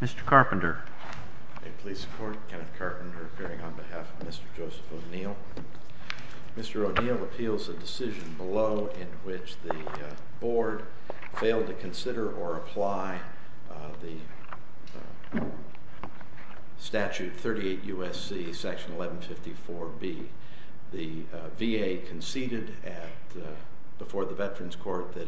Mr. Carpenter. May it please the Court, Kenneth Carpenter appearing on behalf of Mr. Joseph O'Neill. Mr. O'Neill appeals a decision below in which the Board failed to consider or apply the statute 38 U.S.C. section 1154B. The VA conceded before the Veterans Court that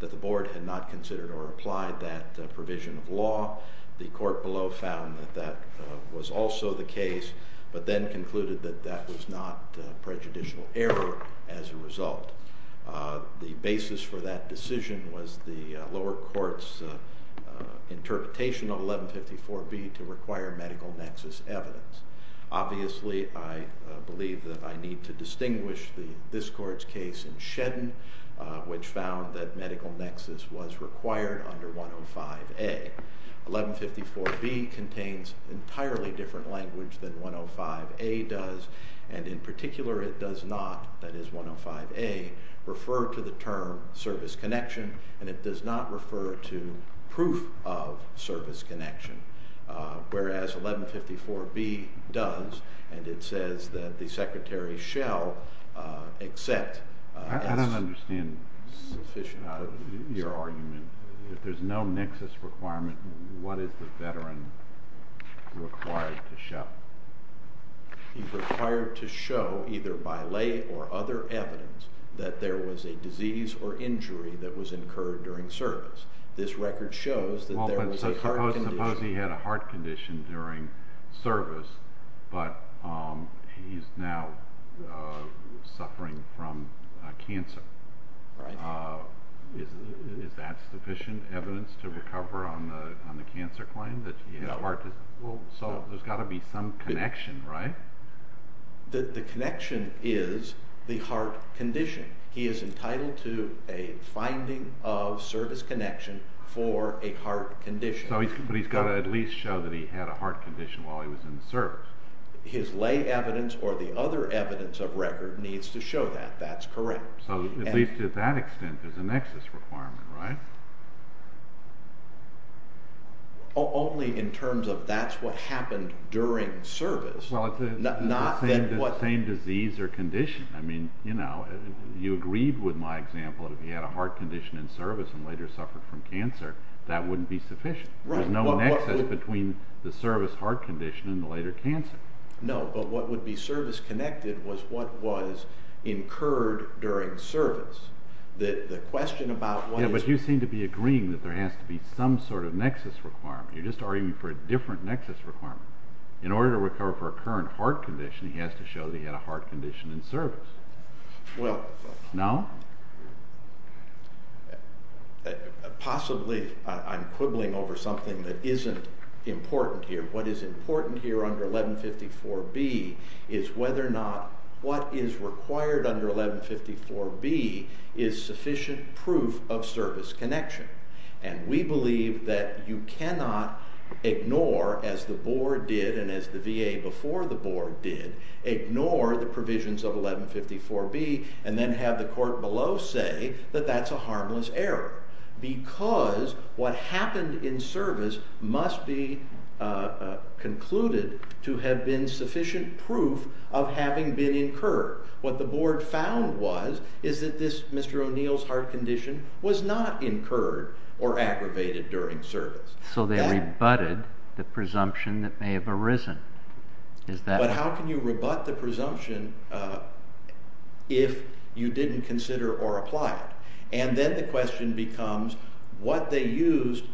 the Board had not considered or applied that provision of law. The Court below found that that was also the case, but then concluded that that was not prejudicial error as a result. The basis for that decision was the lower court's interpretation of 1154B to require medical nexus evidence. Obviously, I believe that I need to distinguish this Court's case in Shedden, which found that medical nexus was required under 105A. 1154B contains entirely different language than 105A does, and in particular it does not, that is 105A, refer to the term service connection, and it does not refer to proof of service connection, whereas 1154B does, and it says that the Secretary shall accept. I don't understand your argument. If there's no nexus requirement, what is the Veteran required to show? He's required to show, either by lay or other evidence, that there was a disease or injury that was incurred during service. This record shows that there was a heart condition. Suppose he had a heart condition during service, but he's now suffering from cancer. Is that sufficient evidence to recover on the cancer claim? There's got to be some connection, right? The connection is the heart condition. He is entitled to a finding of service connection for a heart condition. But he's got to at least show that he had a heart condition while he was in the service. His lay evidence or the other evidence of record needs to show that. That's correct. At least to that extent, there's a nexus requirement, right? Only in terms of that's what happened during service. Well, it's the same disease or condition. You agreed with my example that if he had a heart condition in service and later suffered from cancer, that wouldn't be sufficient. There's no nexus between the service heart condition and the later cancer. No, but what would be service connected was what was incurred during service. Yeah, but you seem to be agreeing that there has to be some sort of nexus requirement. You're just arguing for a different nexus requirement. In order to recover for a current heart condition, he has to show that he had a heart condition in service. Well, possibly I'm quibbling over something that isn't important here. What is important here under 1154B is whether or not what is required under 1154B is sufficient proof of service connection. We believe that you cannot ignore, as the board did and as the VA before the board did, ignore the provisions of 1154B and then have the court below say that that's a harmless error because what happened in service must be concluded to have been sufficient proof of having been incurred. What the board found was that Mr. O'Neill's heart condition was not incurred or aggravated during service. So they rebutted the presumption that may have arisen. But how can you rebut the presumption if you didn't consider or apply it? And then the question becomes what they used.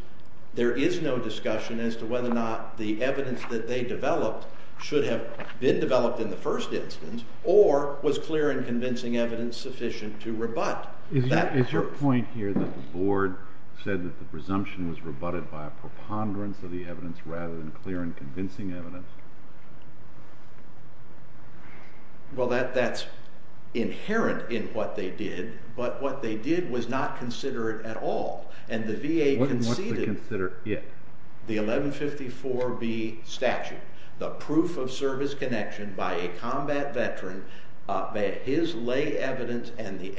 There is no discussion as to whether or not the evidence that they developed should have been developed in the first instance or was clear and convincing evidence sufficient to rebut. Is your point here that the board said that the presumption was rebutted by a preponderance of the evidence rather than clear and convincing evidence? Well, that's inherent in what they did. But what they did was not consider it at all. And the VA conceded the 1154B statute, the proof of service connection by a combat veteran, his lay evidence and the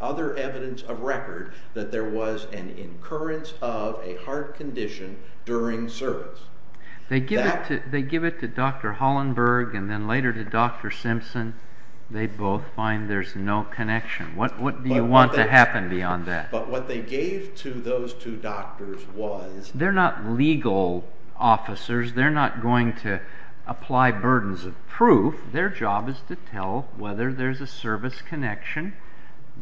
other evidence of record that there was an incurrence of a heart condition during service. They give it to Dr. Hollenberg and then later to Dr. Simpson. They both find there's no connection. What do you want to happen beyond that? But what they gave to those two doctors was... They're not legal officers. They're not going to apply burdens of proof. Their job is to tell whether there's a service connection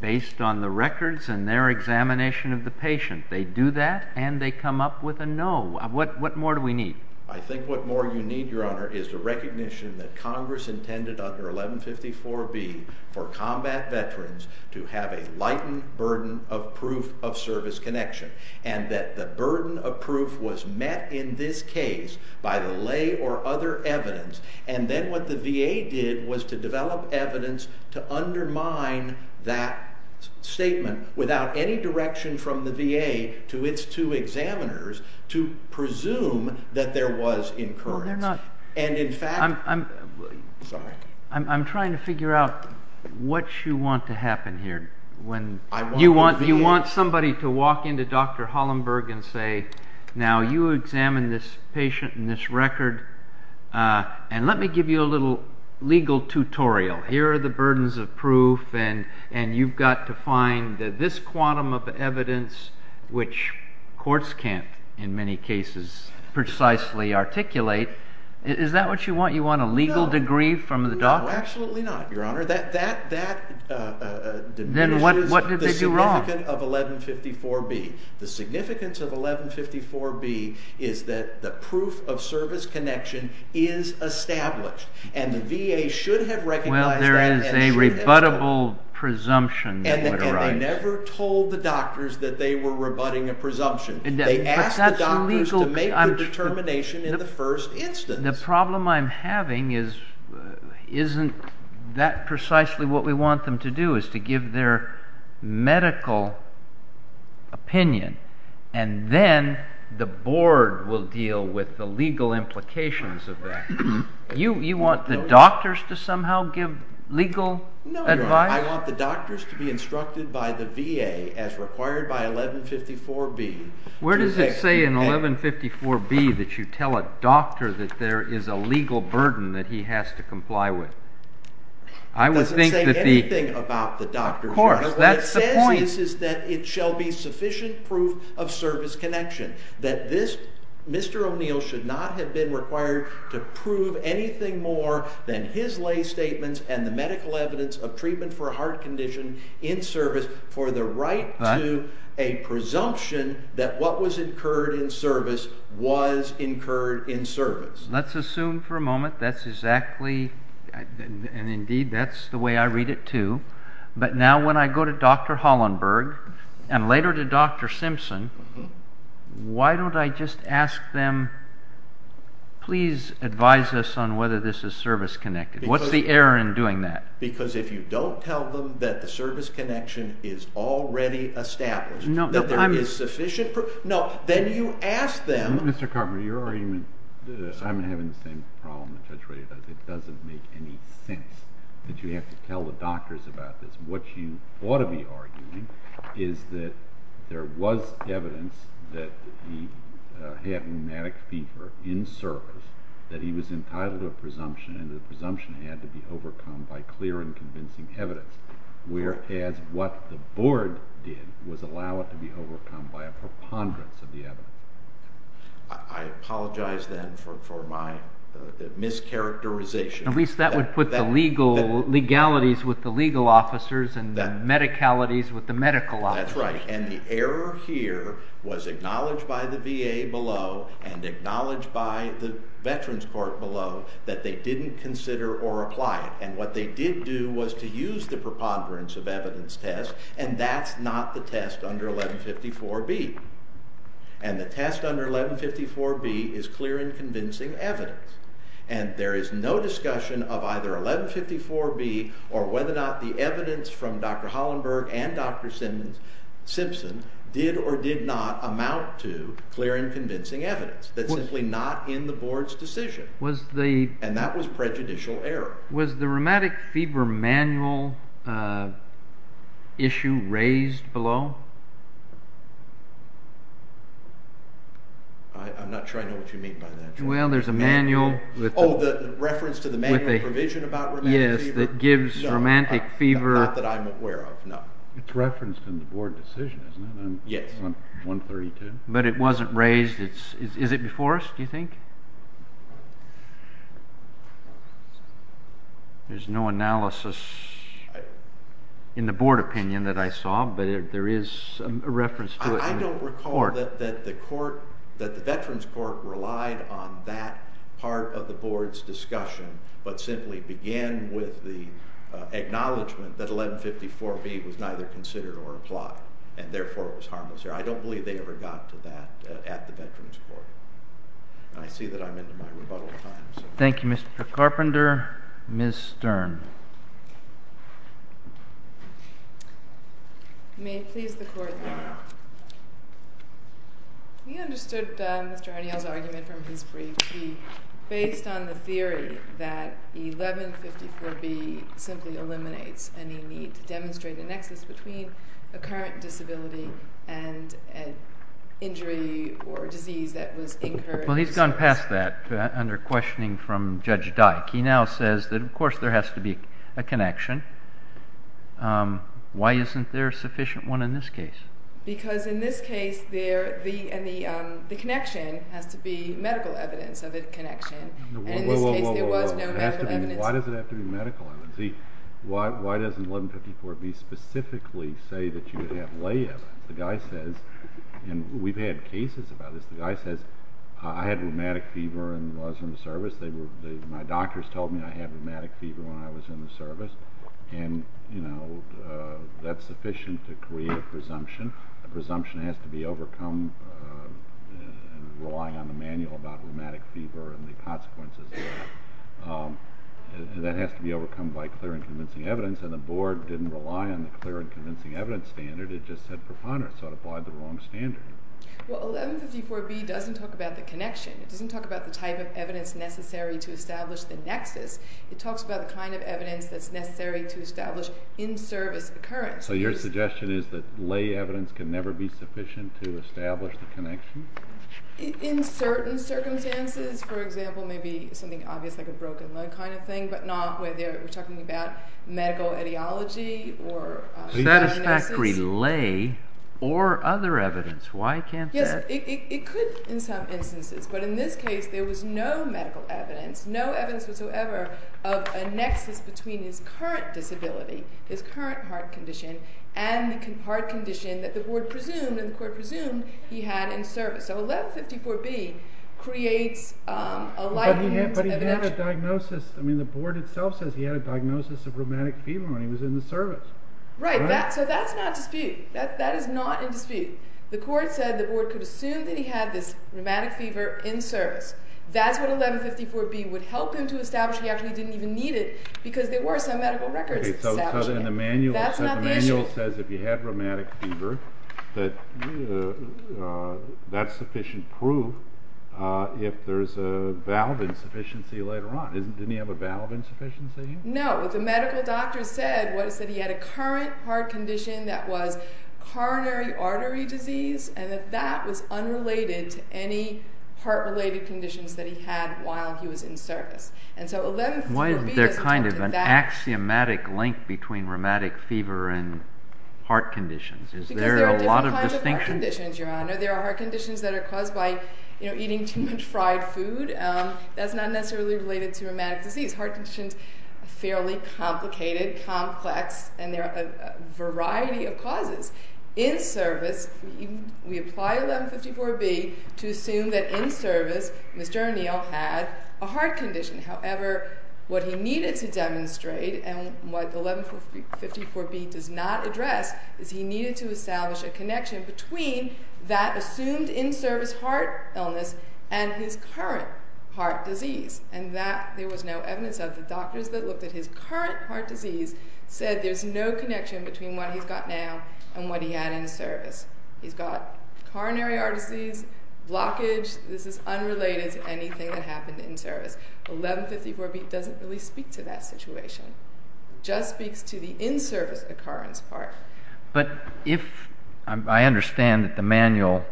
based on the records and their examination of the patient. They do that and they come up with a no. What more do we need? I think what more you need, Your Honor, is the recognition that Congress intended under 1154B for combat veterans to have a lightened burden of proof of service connection and that the burden of proof was met in this case by the lay or other evidence. And then what the VA did was to develop evidence to undermine that statement without any direction from the VA to its two examiners to presume that there was incurrence. No, there's not. And in fact... I'm trying to figure out what you want to happen here. You want somebody to walk into Dr. Hollenberg and say, now you examined this patient and this record and let me give you a little legal tutorial. Here are the burdens of proof and you've got to find that this quantum of evidence, which courts can't in many cases precisely articulate, is that what you want? You want a legal degree from the doctor? No, absolutely not, Your Honor. That diminishes the significance of 1154B. The significance of 1154B is that the proof of service connection is established and the VA should have recognized that. Well, there is a rebuttable presumption. And they never told the doctors that they were rebutting a presumption. They asked the doctors to make the determination in the first instance. The problem I'm having isn't that precisely what we want them to do, is to give their medical opinion and then the board will deal with the legal implications of that. You want the doctors to somehow give legal advice? No, Your Honor. I want the doctors to be instructed by the VA as required by 1154B. Where does it say in 1154B that you tell a doctor that there is a legal burden that he has to comply with? It doesn't say anything about the doctors. Of course, that's the point. What it says is that it shall be sufficient proof of service connection, that Mr. O'Neill should not have been required to prove anything more than his lay statements and the medical evidence of treatment for a heart condition in service for the right to a presumption that what was incurred in service was incurred in service. Let's assume for a moment that's exactly, and indeed that's the way I read it too, but now when I go to Dr. Hollenberg and later to Dr. Simpson, why don't I just ask them, please advise us on whether this is service connected? What's the error in doing that? Because if you don't tell them that the service connection is already established, that there is sufficient proof, no, then you ask them. Mr. Cartman, your argument, I'm having the same problem, it doesn't make any sense that you have to tell the doctors about this. What you ought to be arguing is that there was evidence that he had rheumatic fever in service, that he was entitled to a presumption, and the presumption had to be overcome by clear and convincing evidence, whereas what the board did was allow it to be overcome by a preponderance of the evidence. I apologize then for my mischaracterization. At least that would put the legalities with the legal officers and the medicalities with the medical officers. That's right, and the error here was acknowledged by the VA below and acknowledged by the Veterans Court below that they didn't consider or apply it, and what they did do was to use the preponderance of evidence test, and that's not the test under 1154B, and the test under 1154B is clear and convincing evidence, and there is no discussion of either 1154B or whether or not the evidence from Dr. Hollenberg and Dr. Simpson did or did not amount to clear and convincing evidence. That's simply not in the board's decision, and that was prejudicial error. Was the rheumatic fever manual issue raised below? I'm not sure I know what you mean by that. Well, there's a manual. Oh, the reference to the manual provision about rheumatic fever? Yes, that gives rheumatic fever. Not that I'm aware of, no. It's referenced in the board decision, isn't it? Yes. 132. But it wasn't raised. Is it before us, do you think? There's no analysis in the board opinion that I saw, but there is a reference to it in the court. I don't recall that the veterans court relied on that part of the board's discussion but simply began with the acknowledgment that 1154B was neither considered or applied, and therefore it was harmless error. I don't believe they ever got to that at the veterans court. I see that I'm into my rebuttal time. Thank you, Mr. Carpenter. Ms. Stern. May it please the Court that we understood Mr. O'Neill's argument from his brief. He based on the theory that 1154B simply eliminates any need to demonstrate a nexus between a current disability and an injury or disease that was incurred. Well, he's gone past that under questioning from Judge Dyke. He now says that, of course, there has to be a connection. Why isn't there a sufficient one in this case? Because in this case the connection has to be medical evidence of a connection. And in this case there was no medical evidence. Why does it have to be medical evidence? Why doesn't 1154B specifically say that you would have lay evidence? The guy says, and we've had cases about this, the guy says, I had rheumatic fever and was in the service. My doctors told me I had rheumatic fever when I was in the service. And, you know, that's sufficient to create a presumption. A presumption has to be overcome relying on the manual about rheumatic fever and the consequences of that. And that has to be overcome by clear and convincing evidence. And the Board didn't rely on the clear and convincing evidence standard. It just said profanity, so it applied the wrong standard. Well, 1154B doesn't talk about the connection. It doesn't talk about the type of evidence necessary to establish the nexus. It talks about the kind of evidence that's necessary to establish in-service occurrence. So your suggestion is that lay evidence can never be sufficient to establish the connection? In certain circumstances. For example, maybe something obvious like a broken leg kind of thing, but not whether we're talking about medical etiology or... A satisfactory lay or other evidence. Why can't that... Yes, it could in some instances. But in this case, there was no medical evidence, no evidence whatsoever of a nexus between his current disability, his current heart condition, and the heart condition that the Board presumed and the Court presumed he had in service. So 1154B creates a likened evidence... But he had a diagnosis. I mean, the Board itself says he had a diagnosis of rheumatic fever when he was in the service. Right. So that's not in dispute. That is not in dispute. The Court said the Board could assume that he had this rheumatic fever in service. That's what 1154B would help him to establish. He actually didn't even need it because there were some medical records establishing it. So the manual says if you had rheumatic fever, that's sufficient proof if there's a valve insufficiency later on. Didn't he have a valve insufficiency? No. What the medical doctor said was that he had a current heart condition that was coronary artery disease and that that was unrelated to any heart-related conditions that he had while he was in service. And so 1154B doesn't talk to that. Why is there kind of an axiomatic link between rheumatic fever and heart conditions? Is there a lot of distinction? Because there are different kinds of heart conditions, Your Honor. There are heart conditions that are caused by eating too much fried food. That's not necessarily related to rheumatic disease. Heart conditions are fairly complicated, complex, and there are a variety of causes. In service, we apply 1154B to assume that in service Mr. O'Neill had a heart condition. However, what he needed to demonstrate and what 1154B does not address is he needed to establish a connection between that assumed in-service heart illness and his current heart disease, and that there was no evidence of. The doctors that looked at his current heart disease said there's no connection between what he's got now and what he had in service. He's got coronary artery disease, blockage. This is unrelated to anything that happened in service. 1154B doesn't really speak to that situation. It just speaks to the in-service occurrence part. I understand that the manual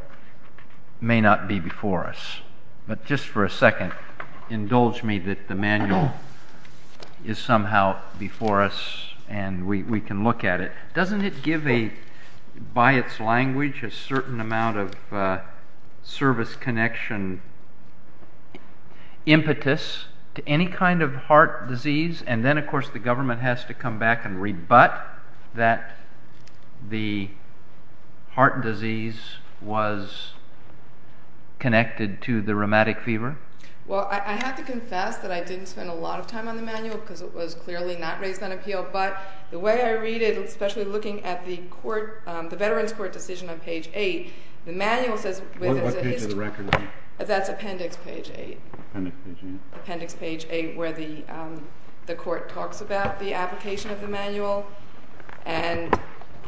may not be before us, but just for a second, indulge me that the manual is somehow before us and we can look at it. Doesn't it give, by its language, a certain amount of service connection impetus to any kind of heart disease? And then, of course, the government has to come back and rebut that the heart disease was connected to the rheumatic fever? Well, I have to confess that I didn't spend a lot of time on the manual because it was clearly not raised on appeal, but the way I read it, especially looking at the Veterans Court decision on page 8, the manual says What page of the record? That's appendix page 8. Appendix page 8. Appendix page 8 where the court talks about the application of the manual and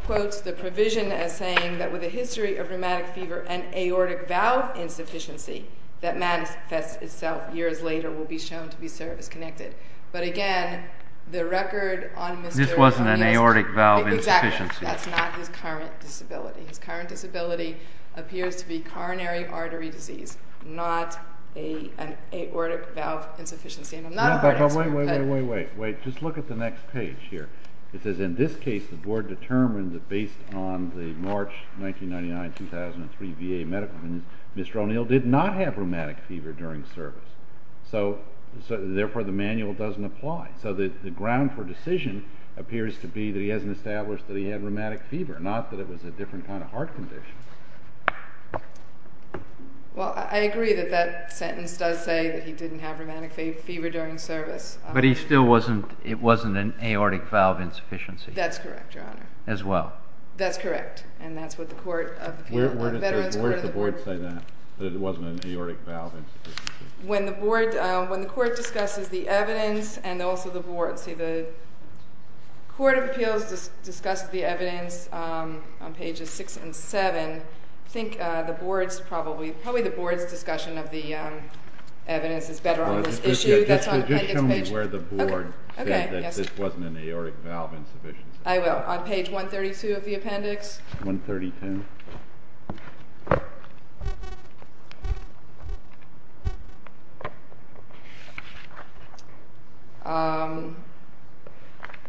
quotes the provision as saying that with a history of rheumatic fever and aortic valve insufficiency that manifests itself years later will be shown to be service-connected. But again, the record on Mr. O'Neill's... This wasn't an aortic valve insufficiency. Exactly. That's not his current disability. His current disability appears to be coronary artery disease, not an aortic valve insufficiency. And I'm not afraid to... Wait, wait, wait, wait, wait. Just look at the next page here. It says, In this case, the board determined that based on the March 1999-2003 VA medical review, Mr. O'Neill did not have rheumatic fever during service. Therefore, the manual doesn't apply. So the ground for decision appears to be that he hasn't established that he had rheumatic fever, not that it was a different kind of heart condition. Well, I agree that that sentence does say that he didn't have rheumatic fever during service. But he still wasn't... it wasn't an aortic valve insufficiency. That's correct, Your Honor. As well. That's correct, and that's what the Court of Appeals... Where did the board say that? That it wasn't an aortic valve insufficiency? When the board... when the court discusses the evidence and also the board... The Court of Appeals discussed the evidence on pages 6 and 7. I think the board's probably... probably the board's discussion of the evidence is better on this issue. Just tell me where the board said that this wasn't an aortic valve insufficiency. I will. On page 132 of the appendix. 132.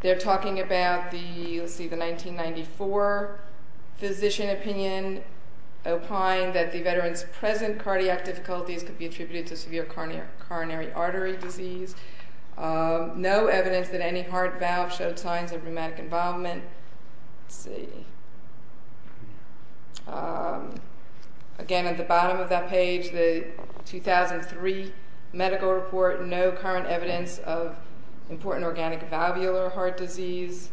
They're talking about the... you'll see the 1994 physician opinion opine that the veteran's present cardiac difficulties could be attributed to severe coronary artery disease. No evidence that any heart valve showed signs of rheumatic involvement. Let's see. Again, at the bottom of that page, the 2003 medical report, no current evidence of important organic valvular heart disease.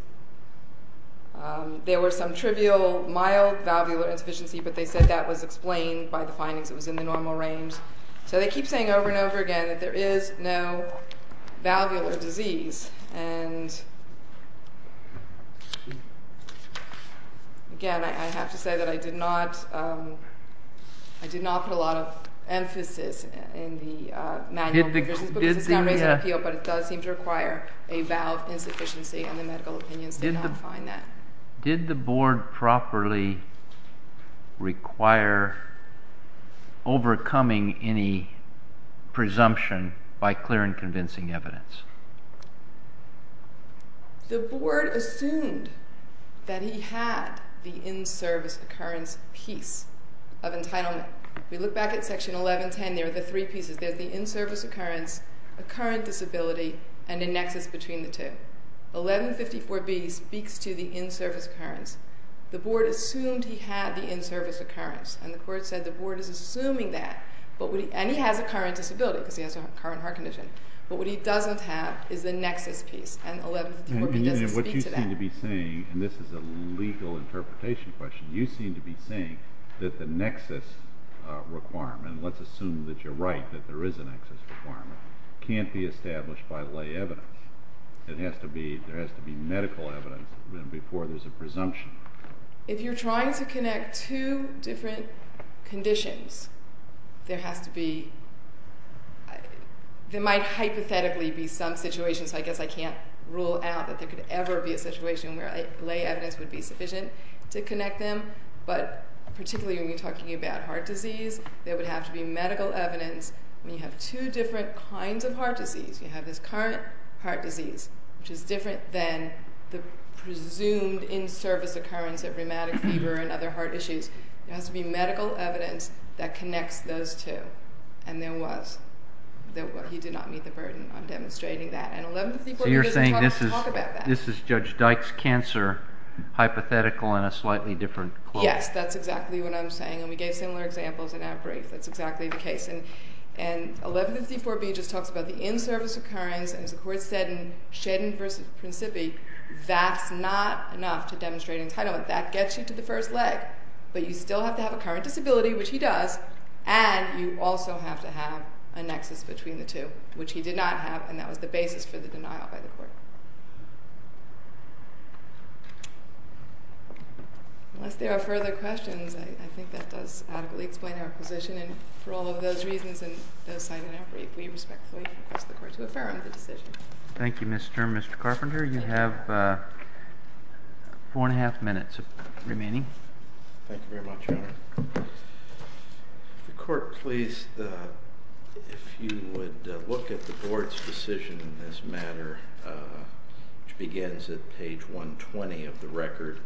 There were some trivial mild valvular insufficiency, but they said that was explained by the findings. It was in the normal range. So they keep saying over and over again that there is no valvular disease. Again, I have to say that I did not... I did not put a lot of emphasis in the manual. This is going to raise an appeal, but it does seem to require a valve insufficiency, and the medical opinions did not find that. Did the board properly require overcoming any presumption by clear and convincing evidence? The board assumed that he had the in-service occurrence piece of entitlement. We look back at section 1110, there are the three pieces. There's the in-service occurrence, a current disability, and a nexus between the two. 1154B speaks to the in-service occurrence. The board assumed he had the in-service occurrence, and the court said the board is assuming that, and he has a current disability because he has a current heart condition, but what he doesn't have is the nexus piece, and 1154B doesn't speak to that. And what you seem to be saying, and this is a legal interpretation question, you seem to be saying that the nexus requirement, and let's assume that you're right, that there is a nexus requirement, can't be established by lay evidence. There has to be medical evidence before there's a presumption. If you're trying to connect two different conditions, there might hypothetically be some situation, so I guess I can't rule out that there could ever be a situation where lay evidence would be sufficient to connect them, but particularly when you're talking about heart disease, there would have to be medical evidence. When you have two different kinds of heart disease, you have this current heart disease, which is different than the presumed in-service occurrence of rheumatic fever and other heart issues. There has to be medical evidence that connects those two, and there was. He did not meet the burden on demonstrating that, and 1154B doesn't talk about that. So you're saying this is Judge Dyke's cancer, hypothetical in a slightly different way. Yes, that's exactly what I'm saying, and we gave similar examples in our brief. That's exactly the case. And 1154B just talks about the in-service occurrence, and as the Court said in Shedden v. Principi, that's not enough to demonstrate entitlement. That gets you to the first leg, but you still have to have a current disability, which he does, and you also have to have a nexus between the two, which he did not have, and that was the basis for the denial by the Court. Unless there are further questions, I think that does adequately explain our position, and for all of those reasons and those cited in our brief, we respectfully request the Court to defer on the decision. Thank you, Mr. and Mr. Carpenter. You have 4 1⁄2 minutes remaining. Thank you very much, Your Honor. If the Court please, if you would look at the Board's decision in this matter, which begins at page 120 of the record.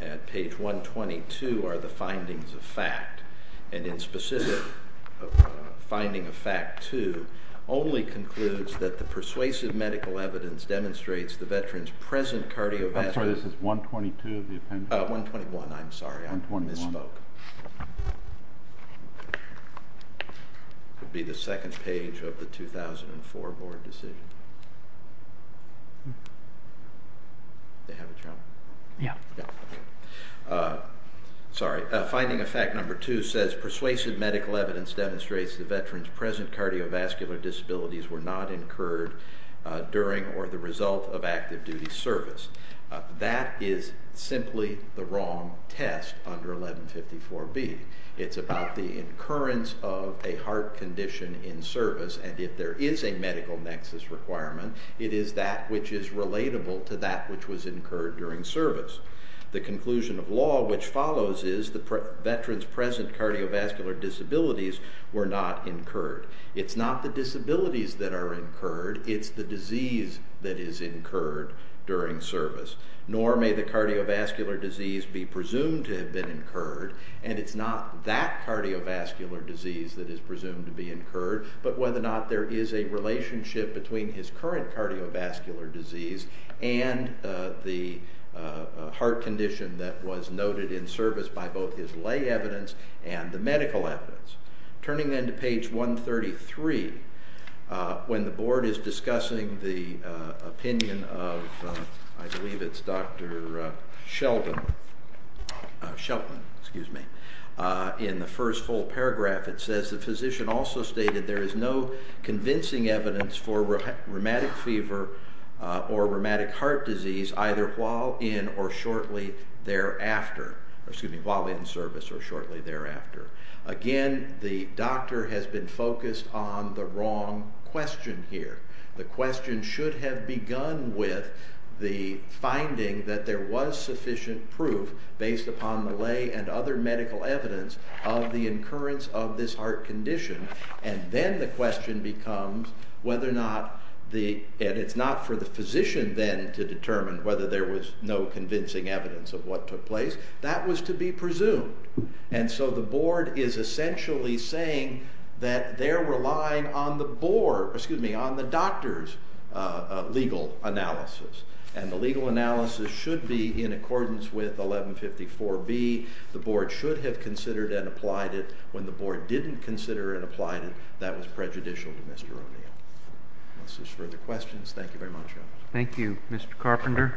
At page 122 are the findings of fact, and in specific finding of fact 2 only concludes that the persuasive medical evidence demonstrates the veteran's present cardiovascular... I'm sorry, this is 122 of the appendix? 121, I'm sorry. I misspoke. It would be the second page of the 2004 Board decision. They have it, Your Honor? Yeah. Sorry. Finding of fact number 2 says persuasive medical evidence demonstrates the veteran's present cardiovascular disabilities were not incurred during or the result of active duty service. That is simply the wrong test under 1154B. It's about the occurrence of a heart condition in service, and if there is a medical nexus requirement, it is that which is relatable to that which was incurred during service. The conclusion of law which follows is the veteran's present cardiovascular disabilities were not incurred. It's not the disabilities that are incurred, it's the disease that is incurred during service. Nor may the cardiovascular disease be presumed to have been incurred, and it's not that cardiovascular disease that is presumed to be incurred, but whether or not there is a relationship between his current cardiovascular disease and the heart condition that was noted in service by both his lay evidence and the medical evidence. Turning then to page 133, when the board is discussing the opinion of, I believe it's Dr. Shelton, in the first full paragraph it says, the physician also stated there is no convincing evidence for rheumatic fever or rheumatic heart disease either while in or shortly thereafter. Excuse me, while in service or shortly thereafter. Again, the doctor has been focused on the wrong question here. The question should have begun with the finding that there was sufficient proof based upon the lay and other medical evidence of the incurrence of this heart condition, and then the question becomes whether or not the, and it's not for the physician then to determine whether there was no convincing evidence of what took place, that was to be presumed. And so the board is essentially saying that they're relying on the board, excuse me, on the doctor's legal analysis. And the legal analysis should be in accordance with 1154B. The board should have considered and applied it. When the board didn't consider and applied it, that was prejudicial to Mr. O'Neill. Unless there's further questions, thank you very much. Thank you, Mr. Carpenter.